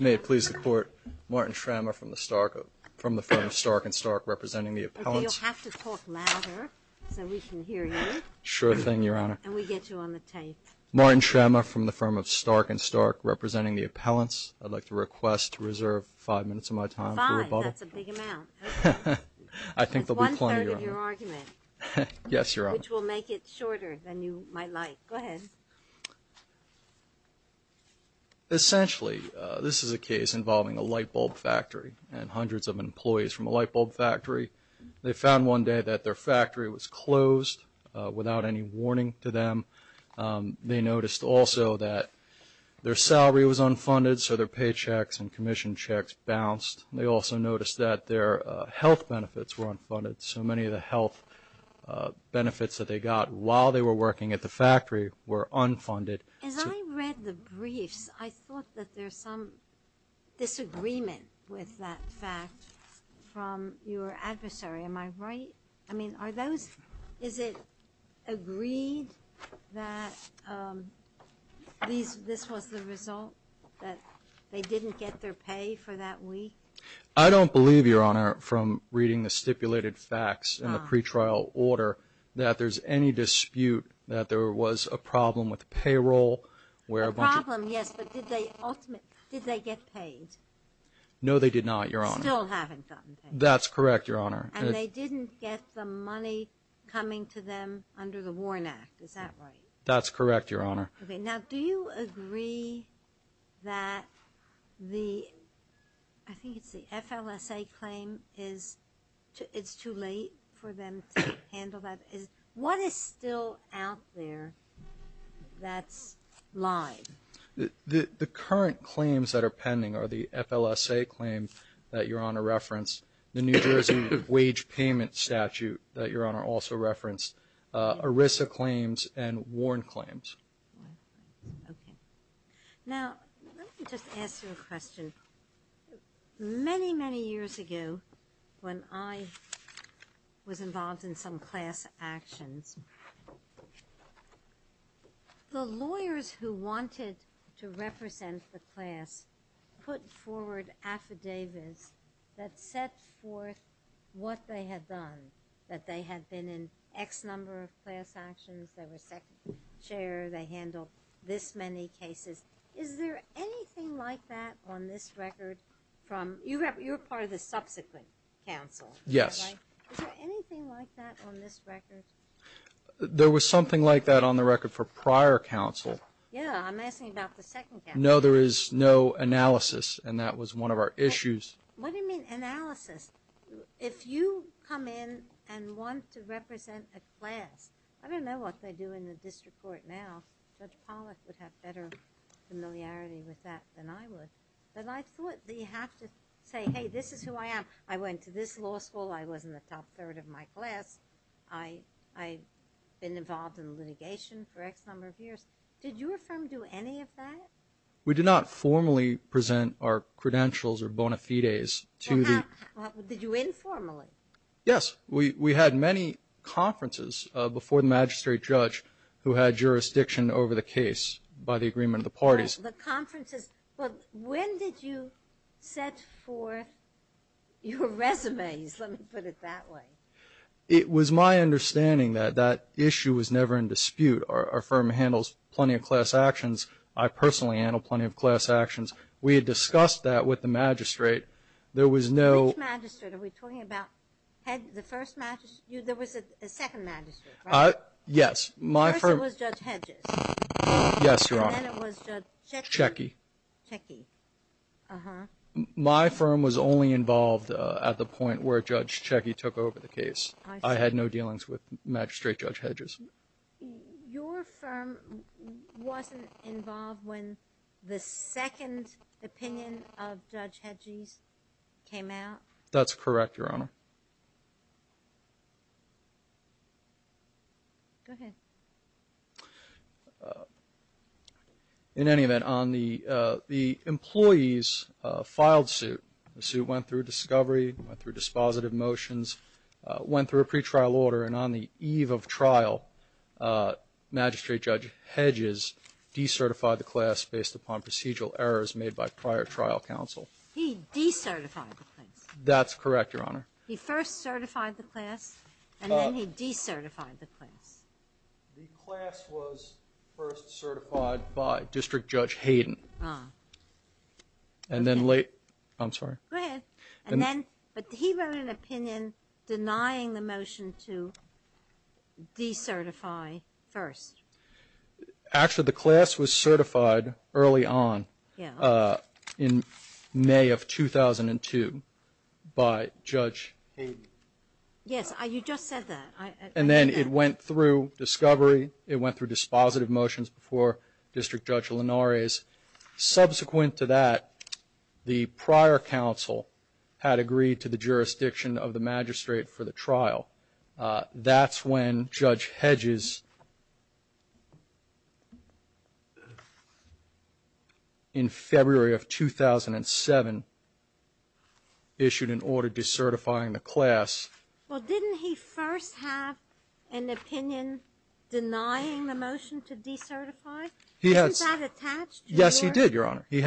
May it please the Court, Martin Schrammer from the firm of Stark and Stark, representing the appellants. Okay, you'll have to talk louder so we can hear you. Sure thing, Your Honor. And we get you on the tape. Martin Schrammer from the firm of Stark and Stark, representing the appellants. I'd like to request to reserve five minutes of my time for rebuttal. That's a big amount. I think there'll be plenty, Your Honor. That's one-third of your argument. Yes, Your Honor. Which will make it shorter than you might like. Go ahead. Essentially, this is a case involving a light bulb factory and hundreds of employees from a light bulb factory. They found one day that their factory was closed without any warning to them. They noticed also that their salary was unfunded, so their paychecks and commission checks bounced. They also noticed that their health benefits were unfunded. So many of the health benefits that they got while they were working at the factory were unfunded. As I read the briefs, I thought that there's some disagreement with that fact from your adversary. Am I right? I mean, are those – is it agreed that this was the result, that they didn't get their pay for that week? I don't believe, Your Honor, from reading the stipulated facts in the pretrial order, that there's any dispute that there was a problem with payroll, where a bunch of – A problem, yes. But did they ultimately – did they get paid? No they did not, Your Honor. Still haven't gotten paid. That's correct, Your Honor. And they didn't get the money coming to them under the Warren Act. Is that right? That's correct, Your Honor. Okay. Now, do you agree that the – I think it's the FLSA claim is – it's too late for them to handle that? What is still out there that's lying? The current claims that are pending are the FLSA claims that Your Honor referenced, the New Jersey wage payment statute that Your Honor also referenced, ERISA claims, and Warren claims. Okay. Now, let me just ask you a question. Many, many years ago, when I was involved in some class actions, the lawyers who wanted to represent the class put forward affidavits that set forth what they had done, that they handled this many cases. Is there anything like that on this record from – you were part of the subsequent counsel. Yes. Is there anything like that on this record? There was something like that on the record for prior counsel. Yeah, I'm asking about the second counsel. No, there is no analysis, and that was one of our issues. What do you mean, analysis? If you come in and want to represent a class – I don't know what they do in the district court now. Judge Pollack would have better familiarity with that than I would. But I thought that you have to say, hey, this is who I am. I went to this law school. I was in the top third of my class. I've been involved in litigation for X number of years. Did your firm do any of that? We did not formally present our credentials or bona fides to the – Did you informally? Yes. We had many conferences before the magistrate judge who had jurisdiction over the case by the agreement of the parties. The conferences – well, when did you set forth your resumes? Let me put it that way. It was my understanding that that issue was never in dispute. Our firm handles plenty of class actions. I personally handle plenty of class actions. We had discussed that with the magistrate. There was no – Which magistrate? Are we talking about the first magistrate? There was a second magistrate, right? Yes. My firm – First it was Judge Hedges. Yes, Your Honor. And then it was Judge Checkey. Checkey. Uh-huh. My firm was only involved at the point where Judge Checkey took over the case. I had no dealings with Magistrate Judge Hedges. Your firm wasn't involved when the second opinion of Judge Hedges came out? That's correct, Your Honor. Go ahead. In any event, the employees filed suit. The suit went through discovery, went through dispositive motions, went through a pretrial order, and on the eve of trial, Magistrate Judge Hedges decertified the class based upon procedural errors made by prior trial counsel. He decertified the class. That's correct, Your Honor. He first certified the class, and then he decertified the class. The class was first certified by District Judge Hayden. Ah. And then late – I'm sorry. Go ahead. And then – but he wrote an opinion denying the motion to decertify first. Actually, the class was certified early on in May of 2002 by Judge Hayden. Yes, you just said that. And then it went through discovery, it went through dispositive motions before District Judge Linares. Subsequent to that, the prior counsel had agreed to the jurisdiction of the magistrate for the trial. That's when Judge Hedges, in February of 2007, issued an order decertifying the class. Well, didn't he first have an opinion denying the motion to decertify? Yes, he did, Your Honor. I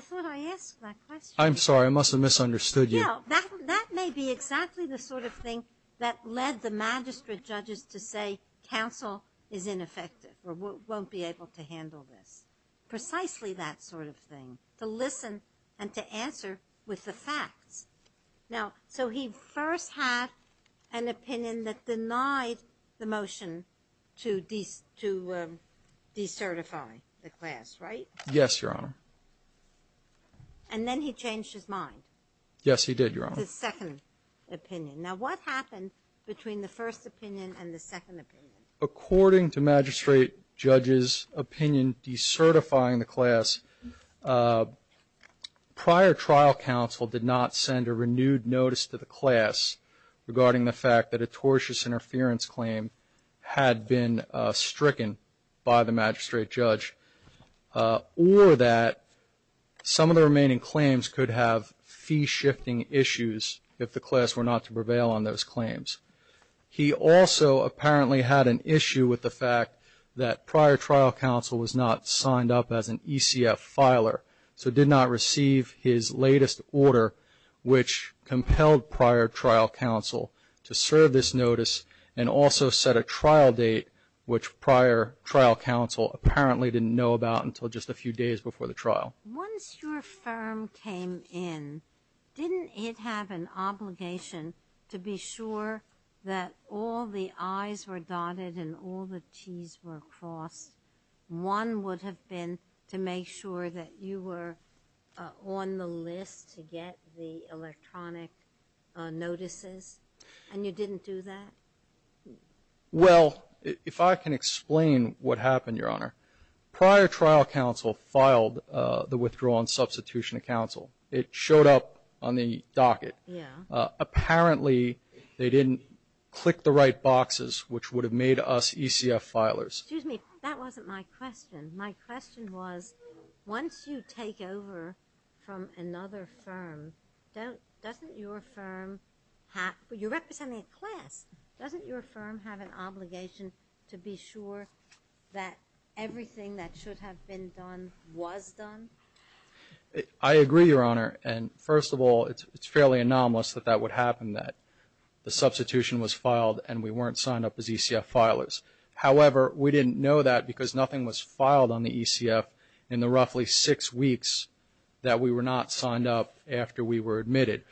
thought I asked that question. I'm sorry. I must have misunderstood you. That may be exactly the sort of thing that led the magistrate judges to say counsel is ineffective or won't be able to handle this. Precisely that sort of thing, to listen and to answer with the facts. Now, so he first had an opinion that denied the motion to decertify the class, right? Yes, Your Honor. And then he changed his mind. Yes, he did, Your Honor. The second opinion. Now, what happened between the first opinion and the second opinion? According to magistrate judges' opinion decertifying the class, prior trial counsel did not send a renewed notice to the class regarding the fact that a tortious interference claim had been stricken by the magistrate judge or that some of the remaining claims could have fee-shifting issues if the class were not to prevail on those claims. He also apparently had an issue with the fact that prior trial counsel was not signed up as an ECF filer, so did not receive his latest order, which compelled prior trial counsel to serve this notice and also set a trial date, which prior trial counsel apparently didn't know about until just a few days before the trial. Once your firm came in, didn't it have an obligation to be sure that all the I's were dotted and all the T's were crossed? One would have been to make sure that you were on the list to get the electronic notices, and you didn't do that? Well, if I can explain what happened, Your Honor, prior trial counsel filed the withdrawn substitution of counsel. It showed up on the docket. Yeah. Apparently, they didn't click the right boxes, which would have made us ECF filers. Excuse me. That wasn't my question. My question was once you take over from another firm, doesn't your firm have You're representing a class. Doesn't your firm have an obligation to be sure that everything that should have been done was done? I agree, Your Honor, and first of all, it's fairly anomalous that that would happen, that the substitution was filed and we weren't signed up as ECF filers. However, we didn't know that because nothing was filed on the ECF in the roughly six weeks that we were not signed up after we were admitted.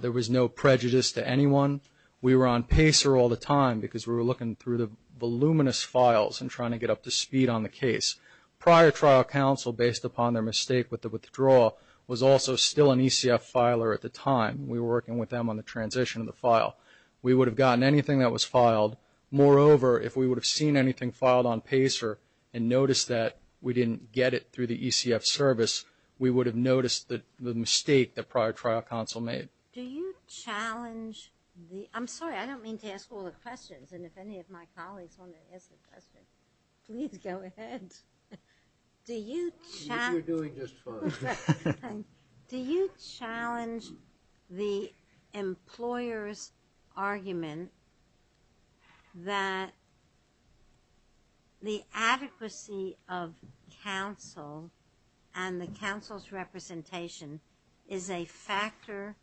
There was no prejudice to anyone. We were on PACER all the time because we were looking through the voluminous files and trying to get up to speed on the case. Prior trial counsel, based upon their mistake with the withdrawal, was also still an ECF filer at the time. We were working with them on the transition of the file. We would have gotten anything that was filed. Moreover, if we would have seen anything filed on PACER and noticed that we didn't get it through the ECF service, we would have noticed the mistake that prior trial counsel made. Do you challenge the – I'm sorry, I don't mean to ask all the questions, and if any of my colleagues want to ask a question, please go ahead. If you're doing just fine. Do you challenge the employer's argument that the adequacy of counsel and the counsel's representation is a factor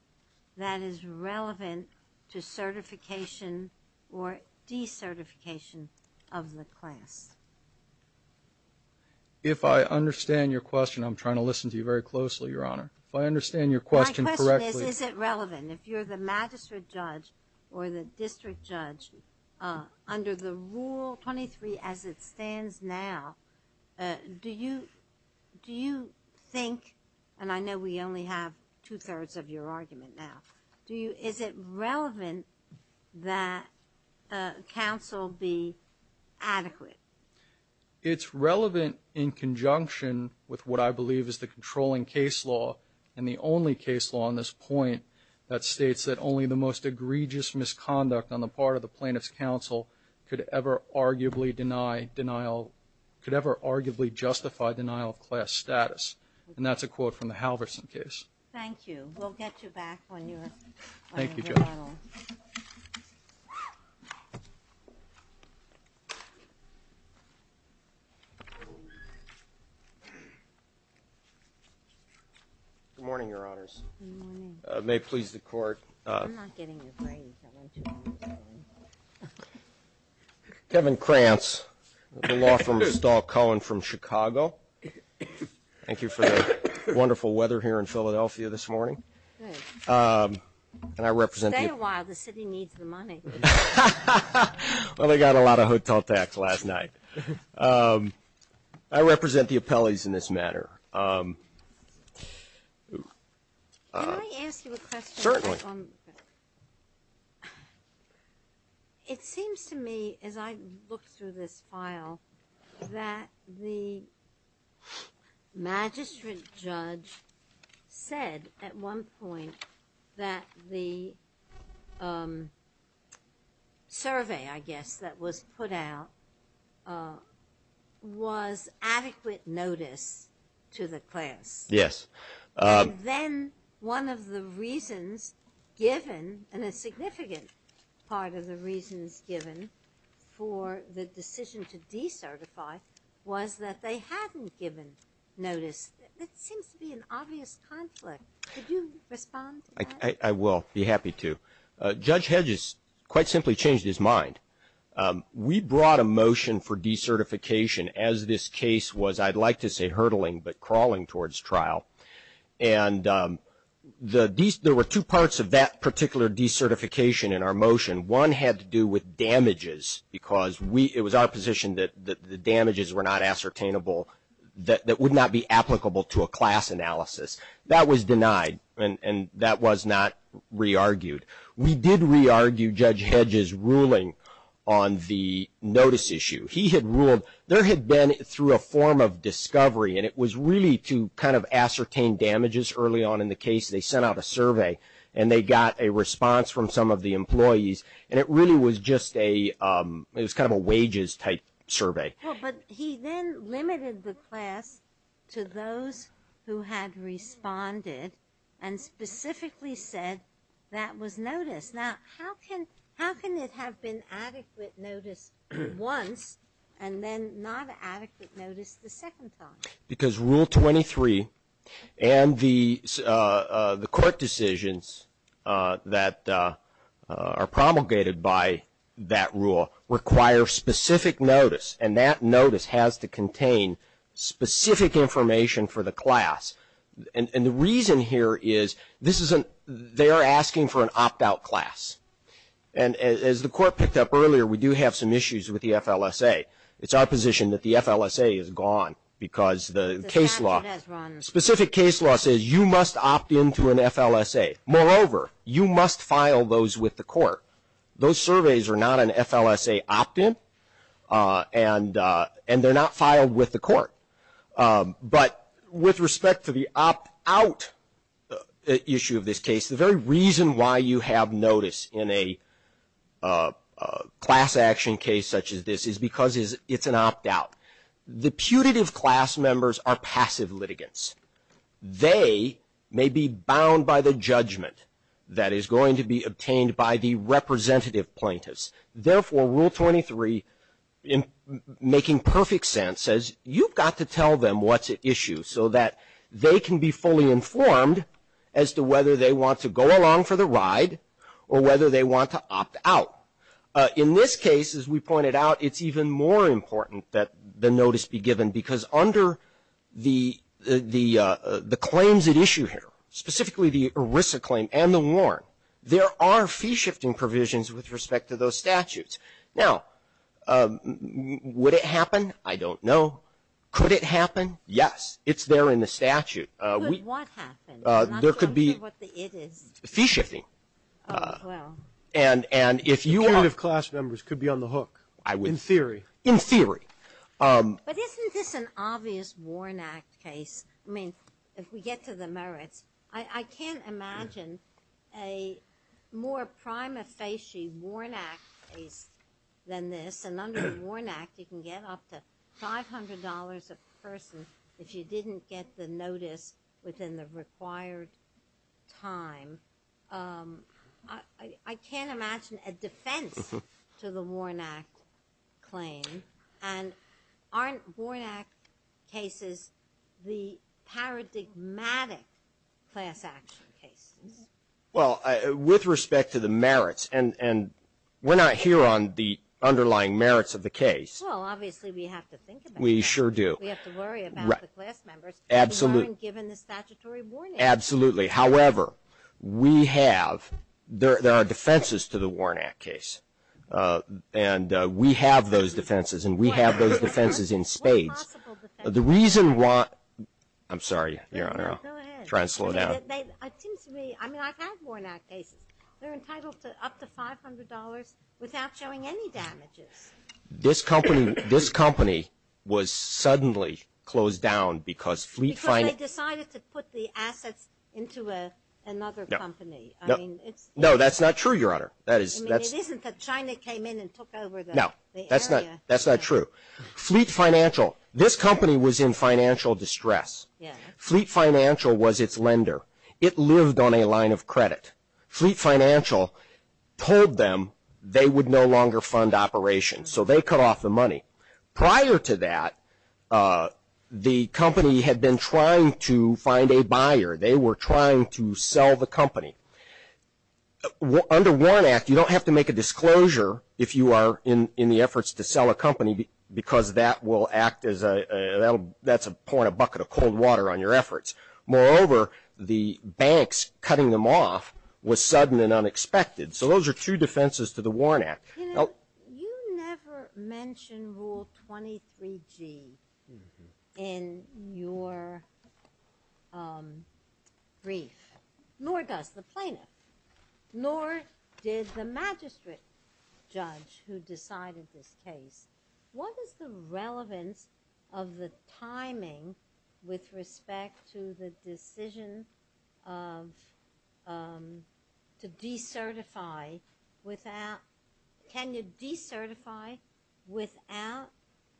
that is relevant to certification or decertification of the class? If I understand your question, I'm trying to listen to you very closely, Your Honor. If I understand your question correctly. My question is, is it relevant? If you're the magistrate judge or the district judge, under the Rule 23 as it stands now, do you think, and I know we only have two-thirds of your argument now, is it relevant that counsel be adequate? It's relevant in conjunction with what I believe is the controlling case law and the only case law on this point that states that only the most egregious misconduct on the part of the plaintiff's counsel could ever arguably deny denial – could ever arguably justify denial of class status. And that's a quote from the Halverson case. Thank you. We'll get you back when you're available. Thank you, Judge. Good morning, Your Honors. Good morning. May it please the Court. I'm not getting a break. I went too long this morning. Kevin Krantz, the law firm of Stahl Cohen from Chicago. Thank you for the wonderful weather here in Philadelphia this morning. Stay a while. The city needs the money. Well, they got a lot of hotel tax last night. I represent the appellees in this matter. Can I ask you a question? Certainly. It seems to me, as I look through this file, that the magistrate judge said at one point that the survey, I guess, that was put out was adequate notice to the class. Yes. And then one of the reasons given, and a significant part of the reasons given for the decision to decertify, was that they hadn't given notice. That seems to be an obvious conflict. Could you respond to that? I will. I'd be happy to. Judge Hedges quite simply changed his mind. We brought a motion for decertification as this case was, I'd like to say, hurtling but crawling towards trial. And there were two parts of that particular decertification in our motion. One had to do with damages, because it was our position that the damages were not ascertainable, that would not be applicable to a class analysis. That was denied, and that was not re-argued. We did re-argue Judge Hedges' ruling on the notice issue. He had ruled there had been, through a form of discovery, and it was really to kind of ascertain damages early on in the case. They sent out a survey, and they got a response from some of the employees, and it really was just a, it was kind of a wages-type survey. Well, but he then limited the class to those who had responded and specifically said that was notice. Now, how can it have been adequate notice once and then not adequate notice the second time? Because Rule 23 and the court decisions that are promulgated by that rule require specific notice, and that notice has to contain specific information for the class. And the reason here is they are asking for an opt-out class. And as the court picked up earlier, we do have some issues with the FLSA. It's our position that the FLSA is gone because the case law, specific case law says you must opt in to an FLSA. Moreover, you must file those with the court. Those surveys are not an FLSA opt-in, and they're not filed with the court. But with respect to the opt-out issue of this case, the very reason why you have notice in a class action case such as this is because it's an opt-out. The putative class members are passive litigants. They may be bound by the judgment that is going to be obtained by the representative plaintiffs. Therefore, Rule 23, making perfect sense, says you've got to tell them what's at issue so that they can be fully informed as to whether they want to go along for the ride or whether they want to opt out. In this case, as we pointed out, it's even more important that the notice be given because under the claims at issue here, specifically the ERISA claim and the WARN, there are fee-shifting provisions with respect to those statutes. Now, would it happen? I don't know. Could it happen? Yes. It's there in the statute. Ginsburg. Could what happen? I'm not sure what the it is. Waxman. Fee-shifting. Ginsburg. Oh, well. Waxman. And if you are the class members could be on the hook in theory. In theory. Ginsburg. But isn't this an obvious WARN Act case? I mean, if we get to the merits. I can't imagine a more prima facie WARN Act case than this. And under the WARN Act, you can get up to $500 a person if you didn't get the notice within the required time. I can't imagine a defense to the WARN Act claim. And aren't WARN Act cases the paradigmatic class action cases? Well, with respect to the merits, and we're not here on the underlying merits of the case. Well, obviously we have to think about that. We sure do. We have to worry about the class members. Absolutely. We weren't given the statutory WARN Act. Absolutely. However, we have, there are defenses to the WARN Act case. And we have those defenses. And we have those defenses in spades. What possible defenses? The reason why, I'm sorry, Your Honor. Go ahead. I'm trying to slow down. It seems to me, I mean, I've had WARN Act cases. They're entitled to up to $500 without showing any damages. This company was suddenly closed down because fleet finance. Because they decided to put the assets into another company. No, that's not true, Your Honor. I mean, it isn't that China came in and took over the area. No, that's not true. Fleet Financial, this company was in financial distress. Fleet Financial was its lender. It lived on a line of credit. Fleet Financial told them they would no longer fund operations, so they cut off the money. Prior to that, the company had been trying to find a buyer. They were trying to sell the company. Under WARN Act, you don't have to make a disclosure if you are in the efforts to sell a company, because that will act as a, that's pouring a bucket of cold water on your efforts. Moreover, the banks cutting them off was sudden and unexpected. So those are two defenses to the WARN Act. You never mention Rule 23G in your brief. Nor does the plaintiff. Nor did the magistrate judge who decided this case. What is the relevance of the timing with respect to the decision of, to decertify without, can you decertify without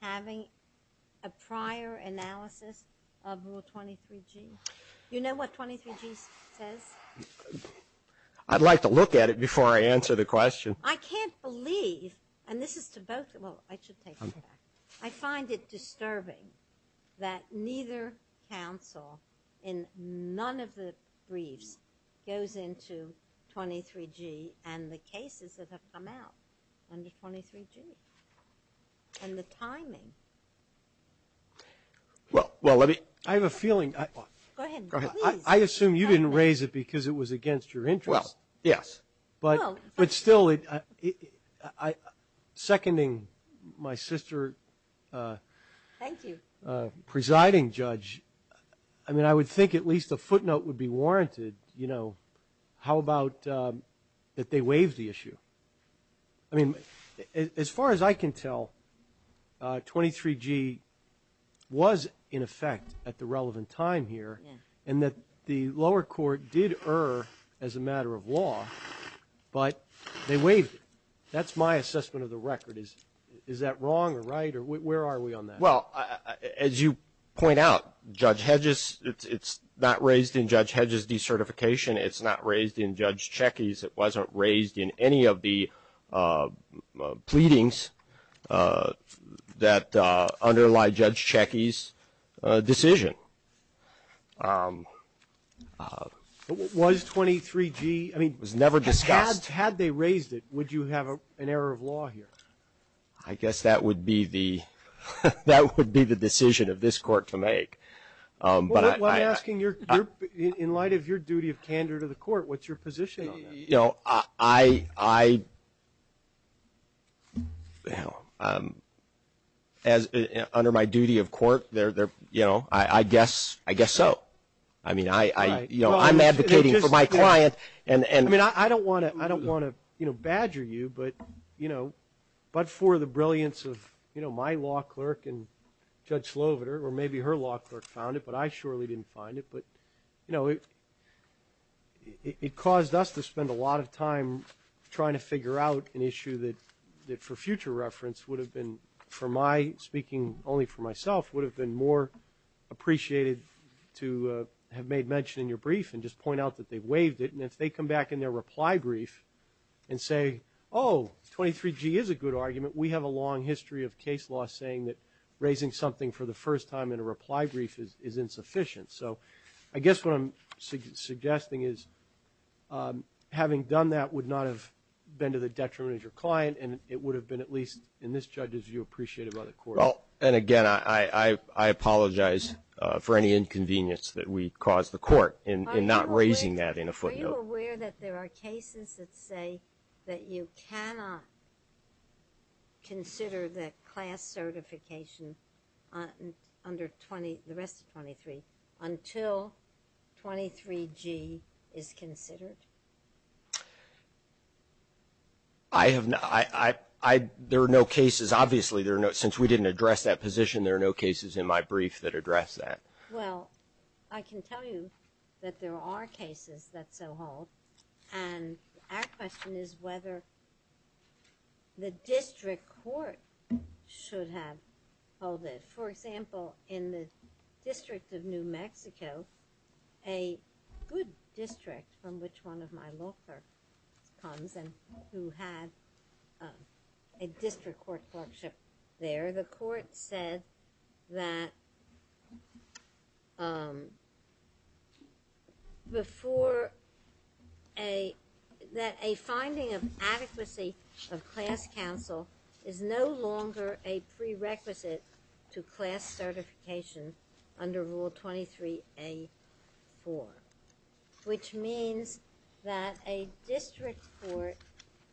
having a prior analysis of Rule 23G? You know what 23G says? I'd like to look at it before I answer the question. I can't believe, and this is to both, well, I should take it back. I find it disturbing that neither counsel in none of the briefs goes into 23G and the cases that have come out under 23G. And the timing. Well, let me. I have a feeling. Go ahead, please. I assume you didn't raise it because it was against your interest. Well, yes. But still, seconding my sister. Thank you. Presiding judge. I mean, I would think at least a footnote would be warranted. You know, how about that they waive the issue? I mean, as far as I can tell, 23G was in effect at the relevant time here. And that the lower court did err as a matter of law, but they waived it. That's my assessment of the record. Is that wrong or right? Where are we on that? Well, as you point out, Judge Hedges, it's not raised in Judge Hedges' decertification. It's not raised in Judge Checkey's. It wasn't raised in any of the pleadings that underlie Judge Checkey's decision. Was 23G? It was never discussed. Had they raised it, would you have an error of law here? I guess that would be the decision of this court to make. Well, I'm asking in light of your duty of candor to the court, what's your position on that? You know, under my duty of court, I guess so. I mean, I'm advocating for my client. I mean, I don't want to badger you, but, you know, but for the brilliance of, you know, my law clerk and Judge Sloviter, or maybe her law clerk found it, but I surely didn't find it. But, you know, it caused us to spend a lot of time trying to figure out an issue that, for future reference, would have been, for my speaking only for myself, would have been more appreciated to have made mention in your brief and just point out that they waived it. And if they come back in their reply brief and say, oh, 23G is a good argument, we have a long history of case law saying that raising something for the first time in a reply brief is insufficient. So I guess what I'm suggesting is having done that would not have been to the detriment of your client, and it would have been at least, in this judge's view, appreciated by the court. Well, and again, I apologize for any inconvenience that we caused the court in not raising that in a footnote. Are you aware that there are cases that say that you cannot consider the class certification under 20, the rest of 23, until 23G is considered? I have not. There are no cases. Obviously, since we didn't address that position, there are no cases in my brief that address that. Well, I can tell you that there are cases that so hold, and our question is whether the district court should have held it. For example, in the District of New Mexico, a good district from which one of my law clerks comes and who had a district court clerkship there, the court said that a finding of adequacy of class counsel is no longer a prerequisite to class certification under Rule 23A-4, which means that a district court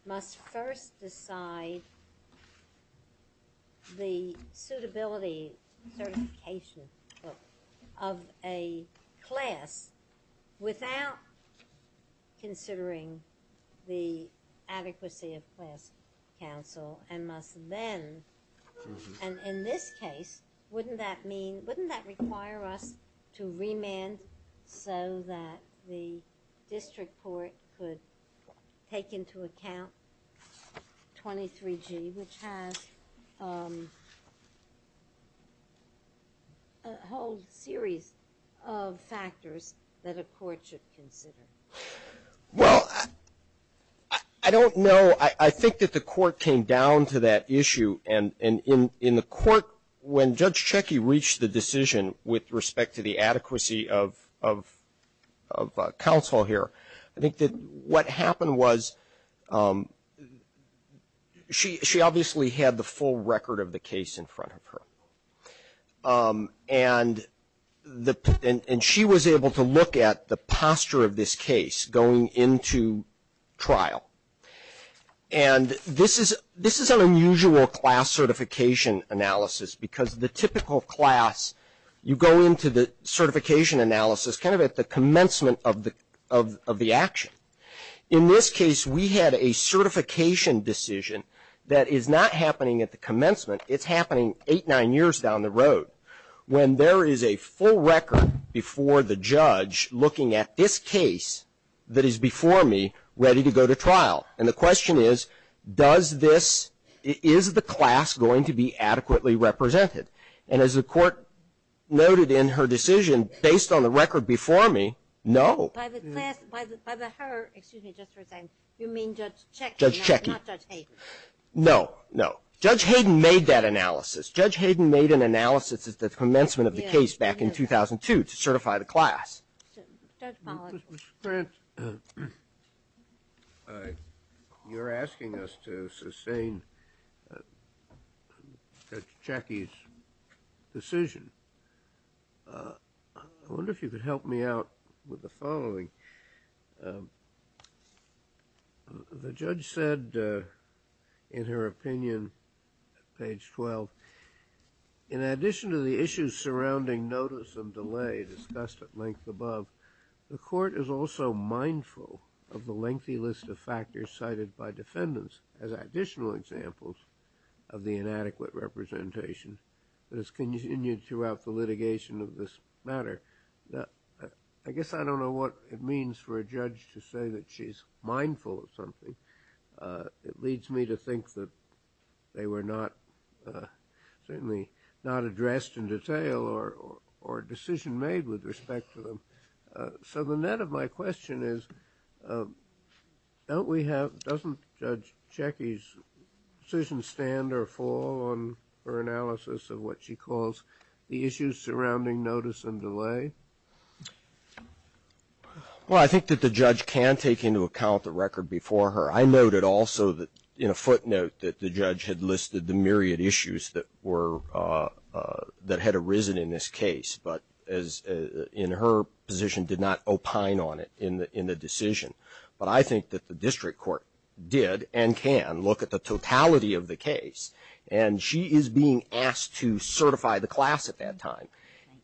must first decide the suitability certification of a class without considering the adequacy of class counsel, and must then, and in this case, wouldn't that require us to remand so that the district court could take into account 23G, which has a whole series of factors that a court should consider? Well, I don't know. I think that the court came down to that issue, and in the court, when Judge Checki reached the decision with respect to the adequacy of counsel here, I think that what happened was she obviously had the full record of the case in front of her, and she was able to look at the posture of this case going into trial, and this is an unusual class certification analysis because the typical class, you go into the certification analysis kind of at the commencement of the action. In this case, we had a certification decision that is not happening at the commencement. It's happening eight, nine years down the road. When there is a full record before the judge looking at this case that is before me ready to go to trial, and the question is, does this, is the class going to be adequately represented? And as the court noted in her decision, based on the record before me, no. By the class, by her, excuse me, just for a second, you mean Judge Checki, not Judge Hayden? No, no. Judge Hayden made that analysis. Judge Hayden made an analysis at the commencement of the case back in 2002 to certify the class. Judge Pollack. You're asking us to sustain Judge Checki's decision. I wonder if you could help me out with the following. The judge said in her opinion, page 12, in addition to the issues surrounding notice of delay discussed at length above, the court is also mindful of the lengthy list of factors cited by defendants as additional examples of the inadequate representation that has continued throughout the litigation of this matter. I guess I don't know what it means for a judge to say that she's mindful of something. It leads me to think that they were certainly not addressed in detail or a decision made with respect to them. So the net of my question is, doesn't Judge Checki's decision stand or fall on her analysis of what she calls the issues surrounding notice and delay? Well, I think that the judge can take into account the record before her. I noted also in a footnote that the judge had listed the myriad issues that had arisen in this case, but in her position did not opine on it in the decision. But I think that the district court did and can look at the totality of the case. And she is being asked to certify the class at that time.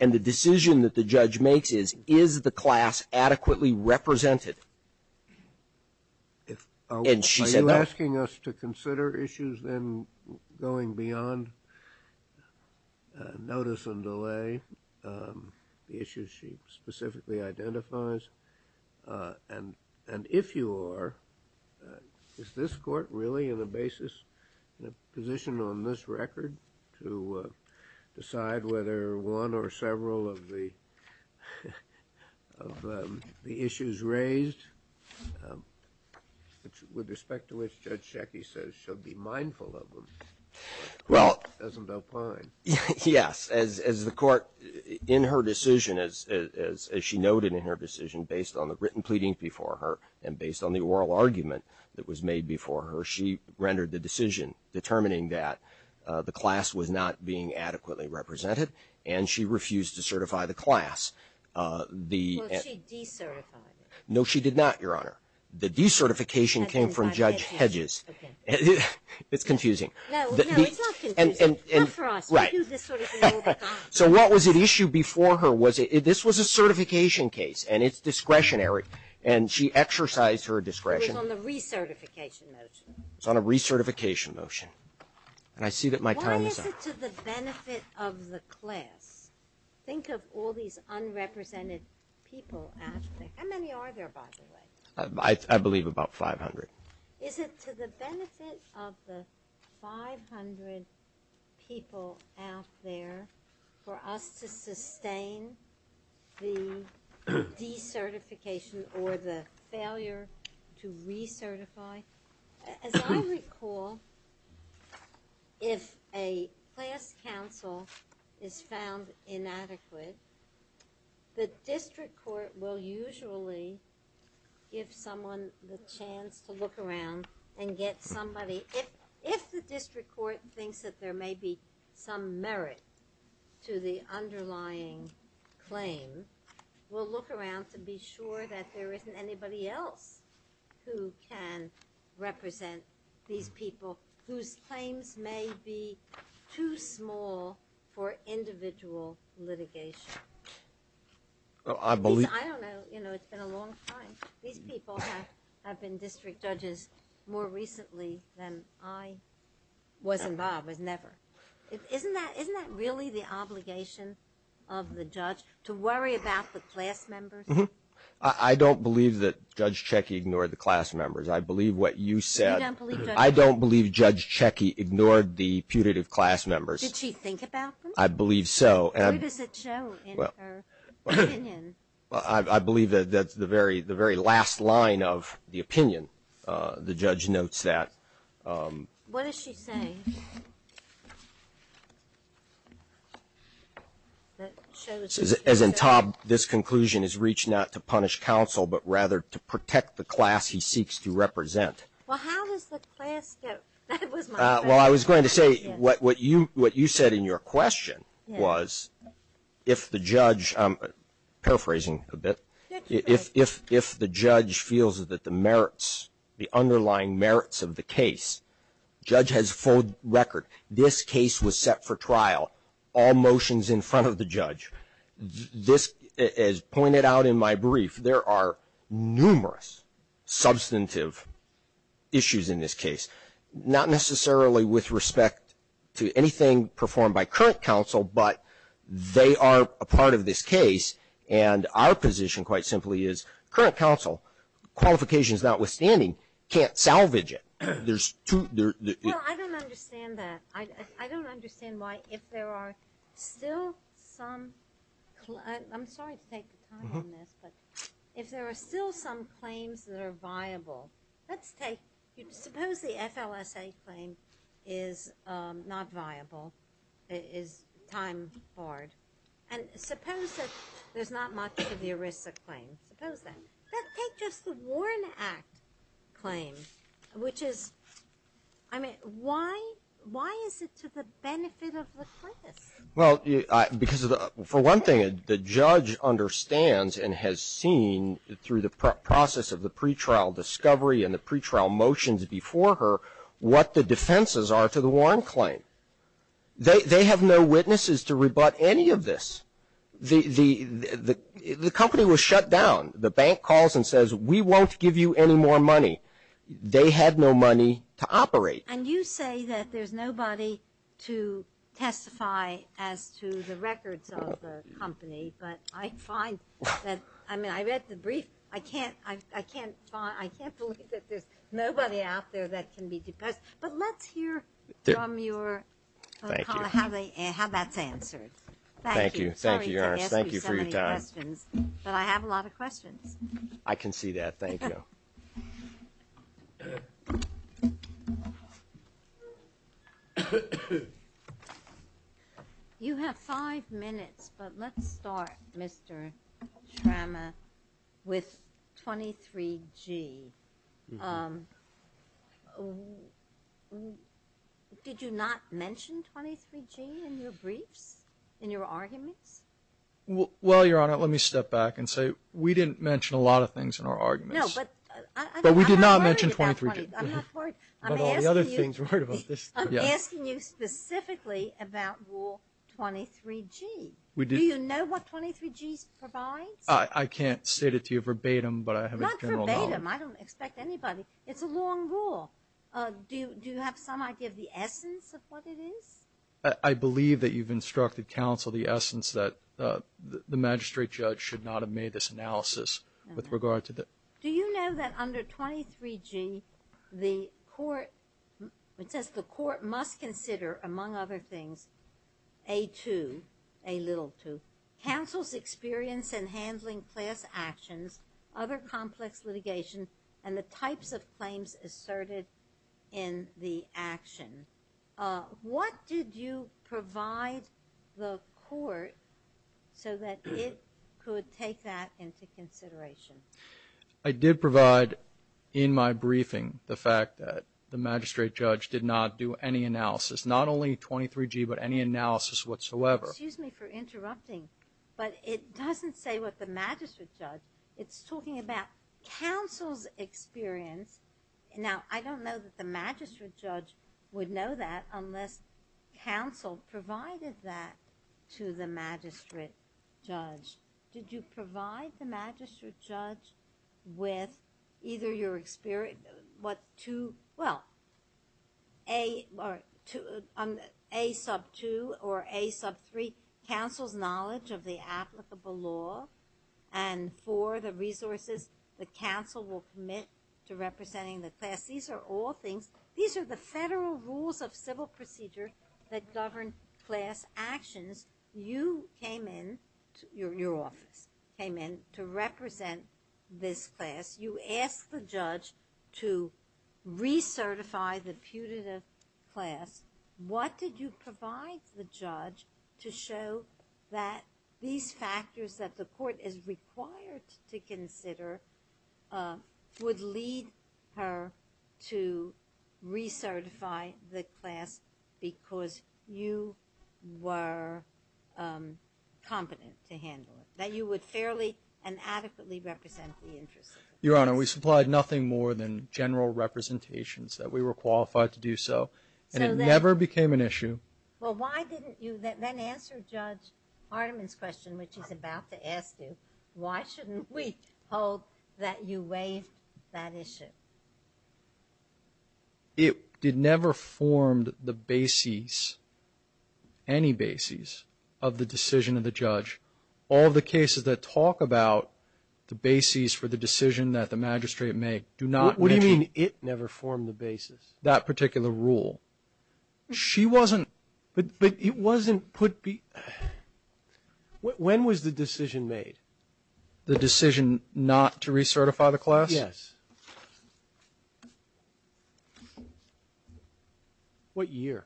And the decision that the judge makes is, is the class adequately represented? And she said that. Are you asking us to consider issues then going beyond notice and delay, the issues she specifically identifies? And if you are, is this court really in a basis, in a position on this record to decide whether one or several of the issues raised, with respect to which Judge Checki says she'll be mindful of them, doesn't opine? Yes. As the court, in her decision, as she noted in her decision, based on the written pleading before her and based on the oral argument that was made before her, she rendered the decision determining that the class was not being adequately represented. And she refused to certify the class. Well, she decertified it. No, she did not, Your Honor. The decertification came from Judge Hedges. It's confusing. No, it's not confusing. Not for us. We do this sort of thing all the time. So what was at issue before her? This was a certification case, and it's discretionary. And she exercised her discretion. It was on the recertification motion. It was on a recertification motion. And I see that my time is up. Why is it to the benefit of the class? Think of all these unrepresented people, Ashley. How many are there, by the way? I believe about 500. Is it to the benefit of the 500 people out there for us to sustain the decertification or the failure to recertify? As I recall, if a class counsel is found inadequate, the district court will usually give someone the chance to look around and get somebody, if the district court thinks that there may be some merit to the underlying claim, will look around to be sure that there isn't anybody else who can represent these people whose claims may be too small for individual litigation. I don't know. It's been a long time. These people have been district judges more recently than I was involved with, never. Isn't that really the obligation of the judge, to worry about the class members? I don't believe that Judge Checky ignored the class members. I believe what you said. I don't believe Judge Checky ignored the putative class members. Did she think about them? I believe so. What does it show in her opinion? I believe that's the very last line of the opinion. The judge notes that. What does she say? As in, Tom, this conclusion is reached not to punish counsel, but rather to protect the class he seeks to represent. Well, how does the class go? That was my question. Well, I was going to say, what you said in your question was, if the judge, paraphrasing a bit, if the judge feels that the merits, the underlying merits of the case, judge has full record, this case was set for trial, all motions in front of the judge. As pointed out in my brief, there are numerous substantive issues in this case, not necessarily with respect to anything performed by current counsel, but they are a part of this case. And our position, quite simply, is current counsel, qualifications notwithstanding, can't salvage it. Well, I don't understand that. I don't understand why, if there are still some, I'm sorry to take the time on this, but if there are still some claims that are viable, let's take, suppose the FLSA claim is not viable, is time-barred, and suppose that there's not much of the ERISA claim, suppose that. Let's take just the Warren Act claim, which is, I mean, why is it to the benefit of the premise? Well, because, for one thing, the judge understands and has seen, through the process of the pretrial discovery and the pretrial motions before her, what the defenses are to the Warren claim. They have no witnesses to rebut any of this. The company was shut down. The bank calls and says, we won't give you any more money. They had no money to operate. And you say that there's nobody to testify as to the records of the company, but I find that, I mean, I read the brief. I can't believe that there's nobody out there that can be deposed. But let's hear from your colleague how that's answered. Thank you. Sorry to ask you so many questions, but I have a lot of questions. I can see that. Thank you. You have five minutes, but let's start, Mr. Trama, with 23G. Did you not mention 23G in your briefs, in your arguments? Well, Your Honor, let me step back and say we didn't mention a lot of things in our arguments. No, but I'm not worried about 23G. But we did not mention 23G. I'm not worried. I'm asking you specifically about Rule 23G. Do you know what 23G provides? I can't state it to you verbatim, but I have a general knowledge. Not verbatim. I don't expect anybody. It's a long rule. Do you have some idea of the essence of what it is? I believe that you've instructed counsel the essence that the magistrate judge should not have made this analysis. Do you know that under 23G, the court must consider, among other things, A2, A2, counsel's experience in handling class actions, other complex litigation, and the types of claims asserted in the action. What did you provide the court so that it could take that into consideration? I did provide in my briefing the fact that the magistrate judge did not do any analysis, not only 23G, but any analysis whatsoever. Excuse me for interrupting, but it doesn't say what the magistrate judge. It's talking about counsel's experience. Now, I don't know that the magistrate judge would know that unless counsel provided that to the magistrate judge. Did you provide the magistrate judge with either your experience? Well, A2 or A3, counsel's knowledge of the applicable law, and for the resources that counsel will commit to representing the class. These are all things. These are the federal rules of civil procedure that govern class actions. You came in, your office came in, to represent this class. You asked the judge to recertify the putative class. What did you provide the judge to show that these factors that the court is required to consider would lead her to recertify the class because you were competent to handle it, that you would fairly and adequately represent the interests of the class? Your Honor, we supplied nothing more than general representations that we were qualified to do so. And it never became an issue. Well, why didn't you then answer Judge Hartiman's question, which he's about to ask you, why shouldn't we hold that you waived that issue? It never formed the basis, any basis, of the decision of the judge. All the cases that talk about the basis for the decision that the magistrate may do not mention. What do you mean it never formed the basis? That particular rule. She wasn't – But it wasn't put – when was the decision made? The decision not to recertify the class? Yes. What year?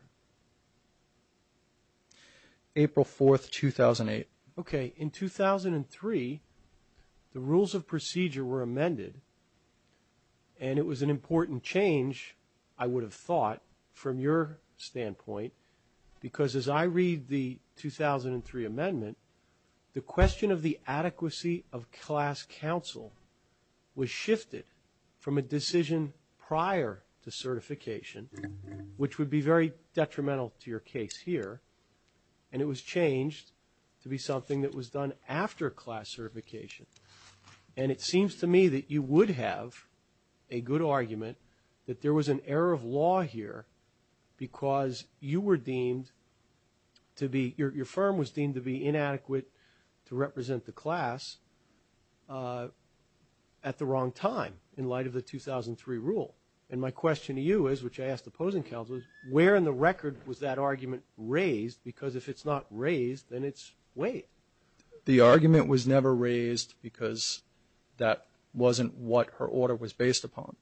April 4th, 2008. Okay. In 2003, the rules of procedure were amended, and it was an important change, I would have thought, from your standpoint, because as I read the 2003 amendment, the question of the adequacy of class counsel was shifted from a decision prior to certification, which would be very detrimental to your case here, and it was changed to be something that was done after class certification. And it seems to me that you would have a good argument that there was an error of law here because you were deemed to be – your firm was deemed to be inadequate to represent the class at the wrong time in light of the 2003 rule. And my question to you is, which I ask the opposing counsel, is where in the record was that argument raised? Because if it's not raised, then it's waived. The argument was never raised because that wasn't what her order was based upon.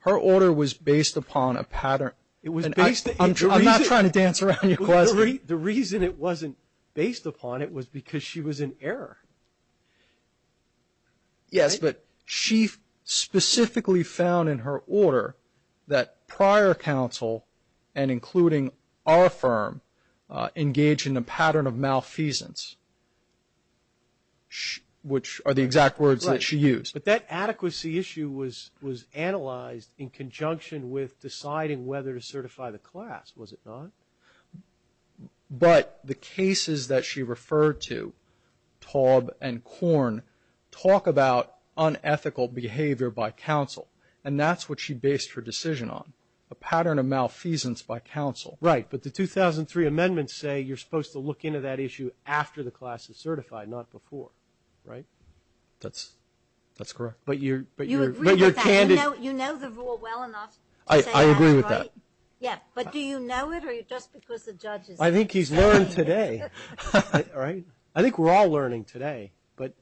Her order was based upon a pattern. It was based – I'm not trying to dance around your question. Yes, but she specifically found in her order that prior counsel, and including our firm, engaged in a pattern of malfeasance, which are the exact words that she used. But that adequacy issue was analyzed in conjunction with deciding whether to certify the class, was it not? But the cases that she referred to, Taub and Korn, talk about unethical behavior by counsel. And that's what she based her decision on, a pattern of malfeasance by counsel. Right. But the 2003 amendments say you're supposed to look into that issue after the class is certified, not before. Right? That's correct. But you're – You agree with that. You know the rule well enough to say that, right? I agree with that. Yeah. But do you know it, or just because the judge is – I think he's learned today. Right? I think we're all learning today. But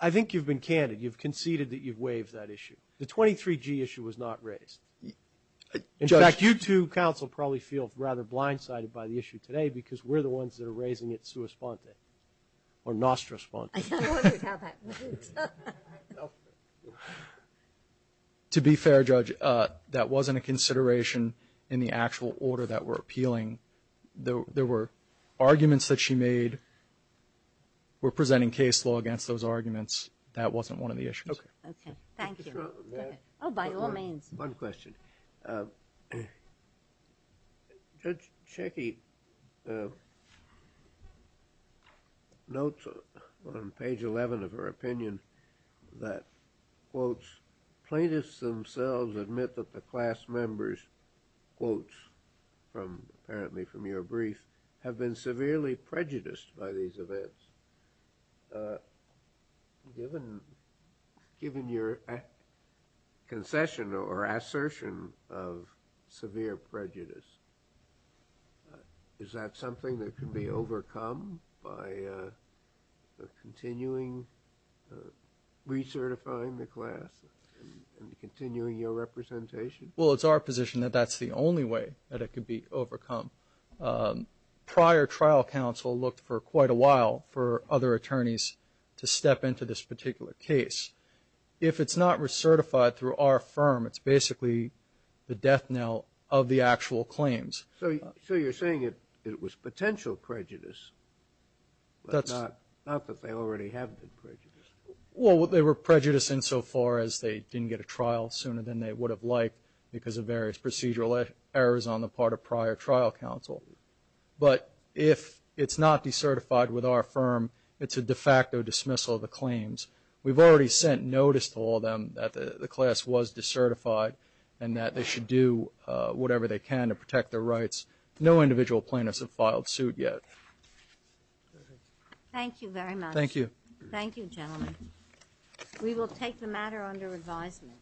I think you've been candid. You've conceded that you've waived that issue. The 23G issue was not raised. In fact, you two counsel probably feel rather blindsided by the issue today because we're the ones that are raising it sua sponte, or nostra sponte. I'm wondering how that works. To be fair, Judge, that wasn't a consideration in the actual order that we're appealing. There were arguments that she made were presenting case law against those arguments. That wasn't one of the issues. Okay. Thank you. Oh, by all means. One question. Judge Schecky notes on page 11 of her opinion that, quote, plaintiffs themselves admit that the class members, quote, apparently from your brief, have been severely prejudiced by these events. Given your concession or assertion of severe prejudice, is that something that can be overcome by continuing recertifying the class and continuing your representation? Well, it's our position that that's the only way that it can be overcome. Prior trial counsel looked for quite a while for other attorneys to step into this particular case. If it's not recertified through our firm, it's basically the death knell of the actual claims. So you're saying it was potential prejudice, not that they already have been prejudiced? Well, they were prejudiced insofar as they didn't get a trial sooner than they would have liked because of various procedural errors on the part of prior trial counsel. But if it's not decertified with our firm, it's a de facto dismissal of the claims. We've already sent notice to all of them that the class was decertified and that they should do whatever they can to protect their rights. No individual plaintiffs have filed suit yet. Thank you very much. Thank you. Thank you, gentlemen. We will take the matter under advisement.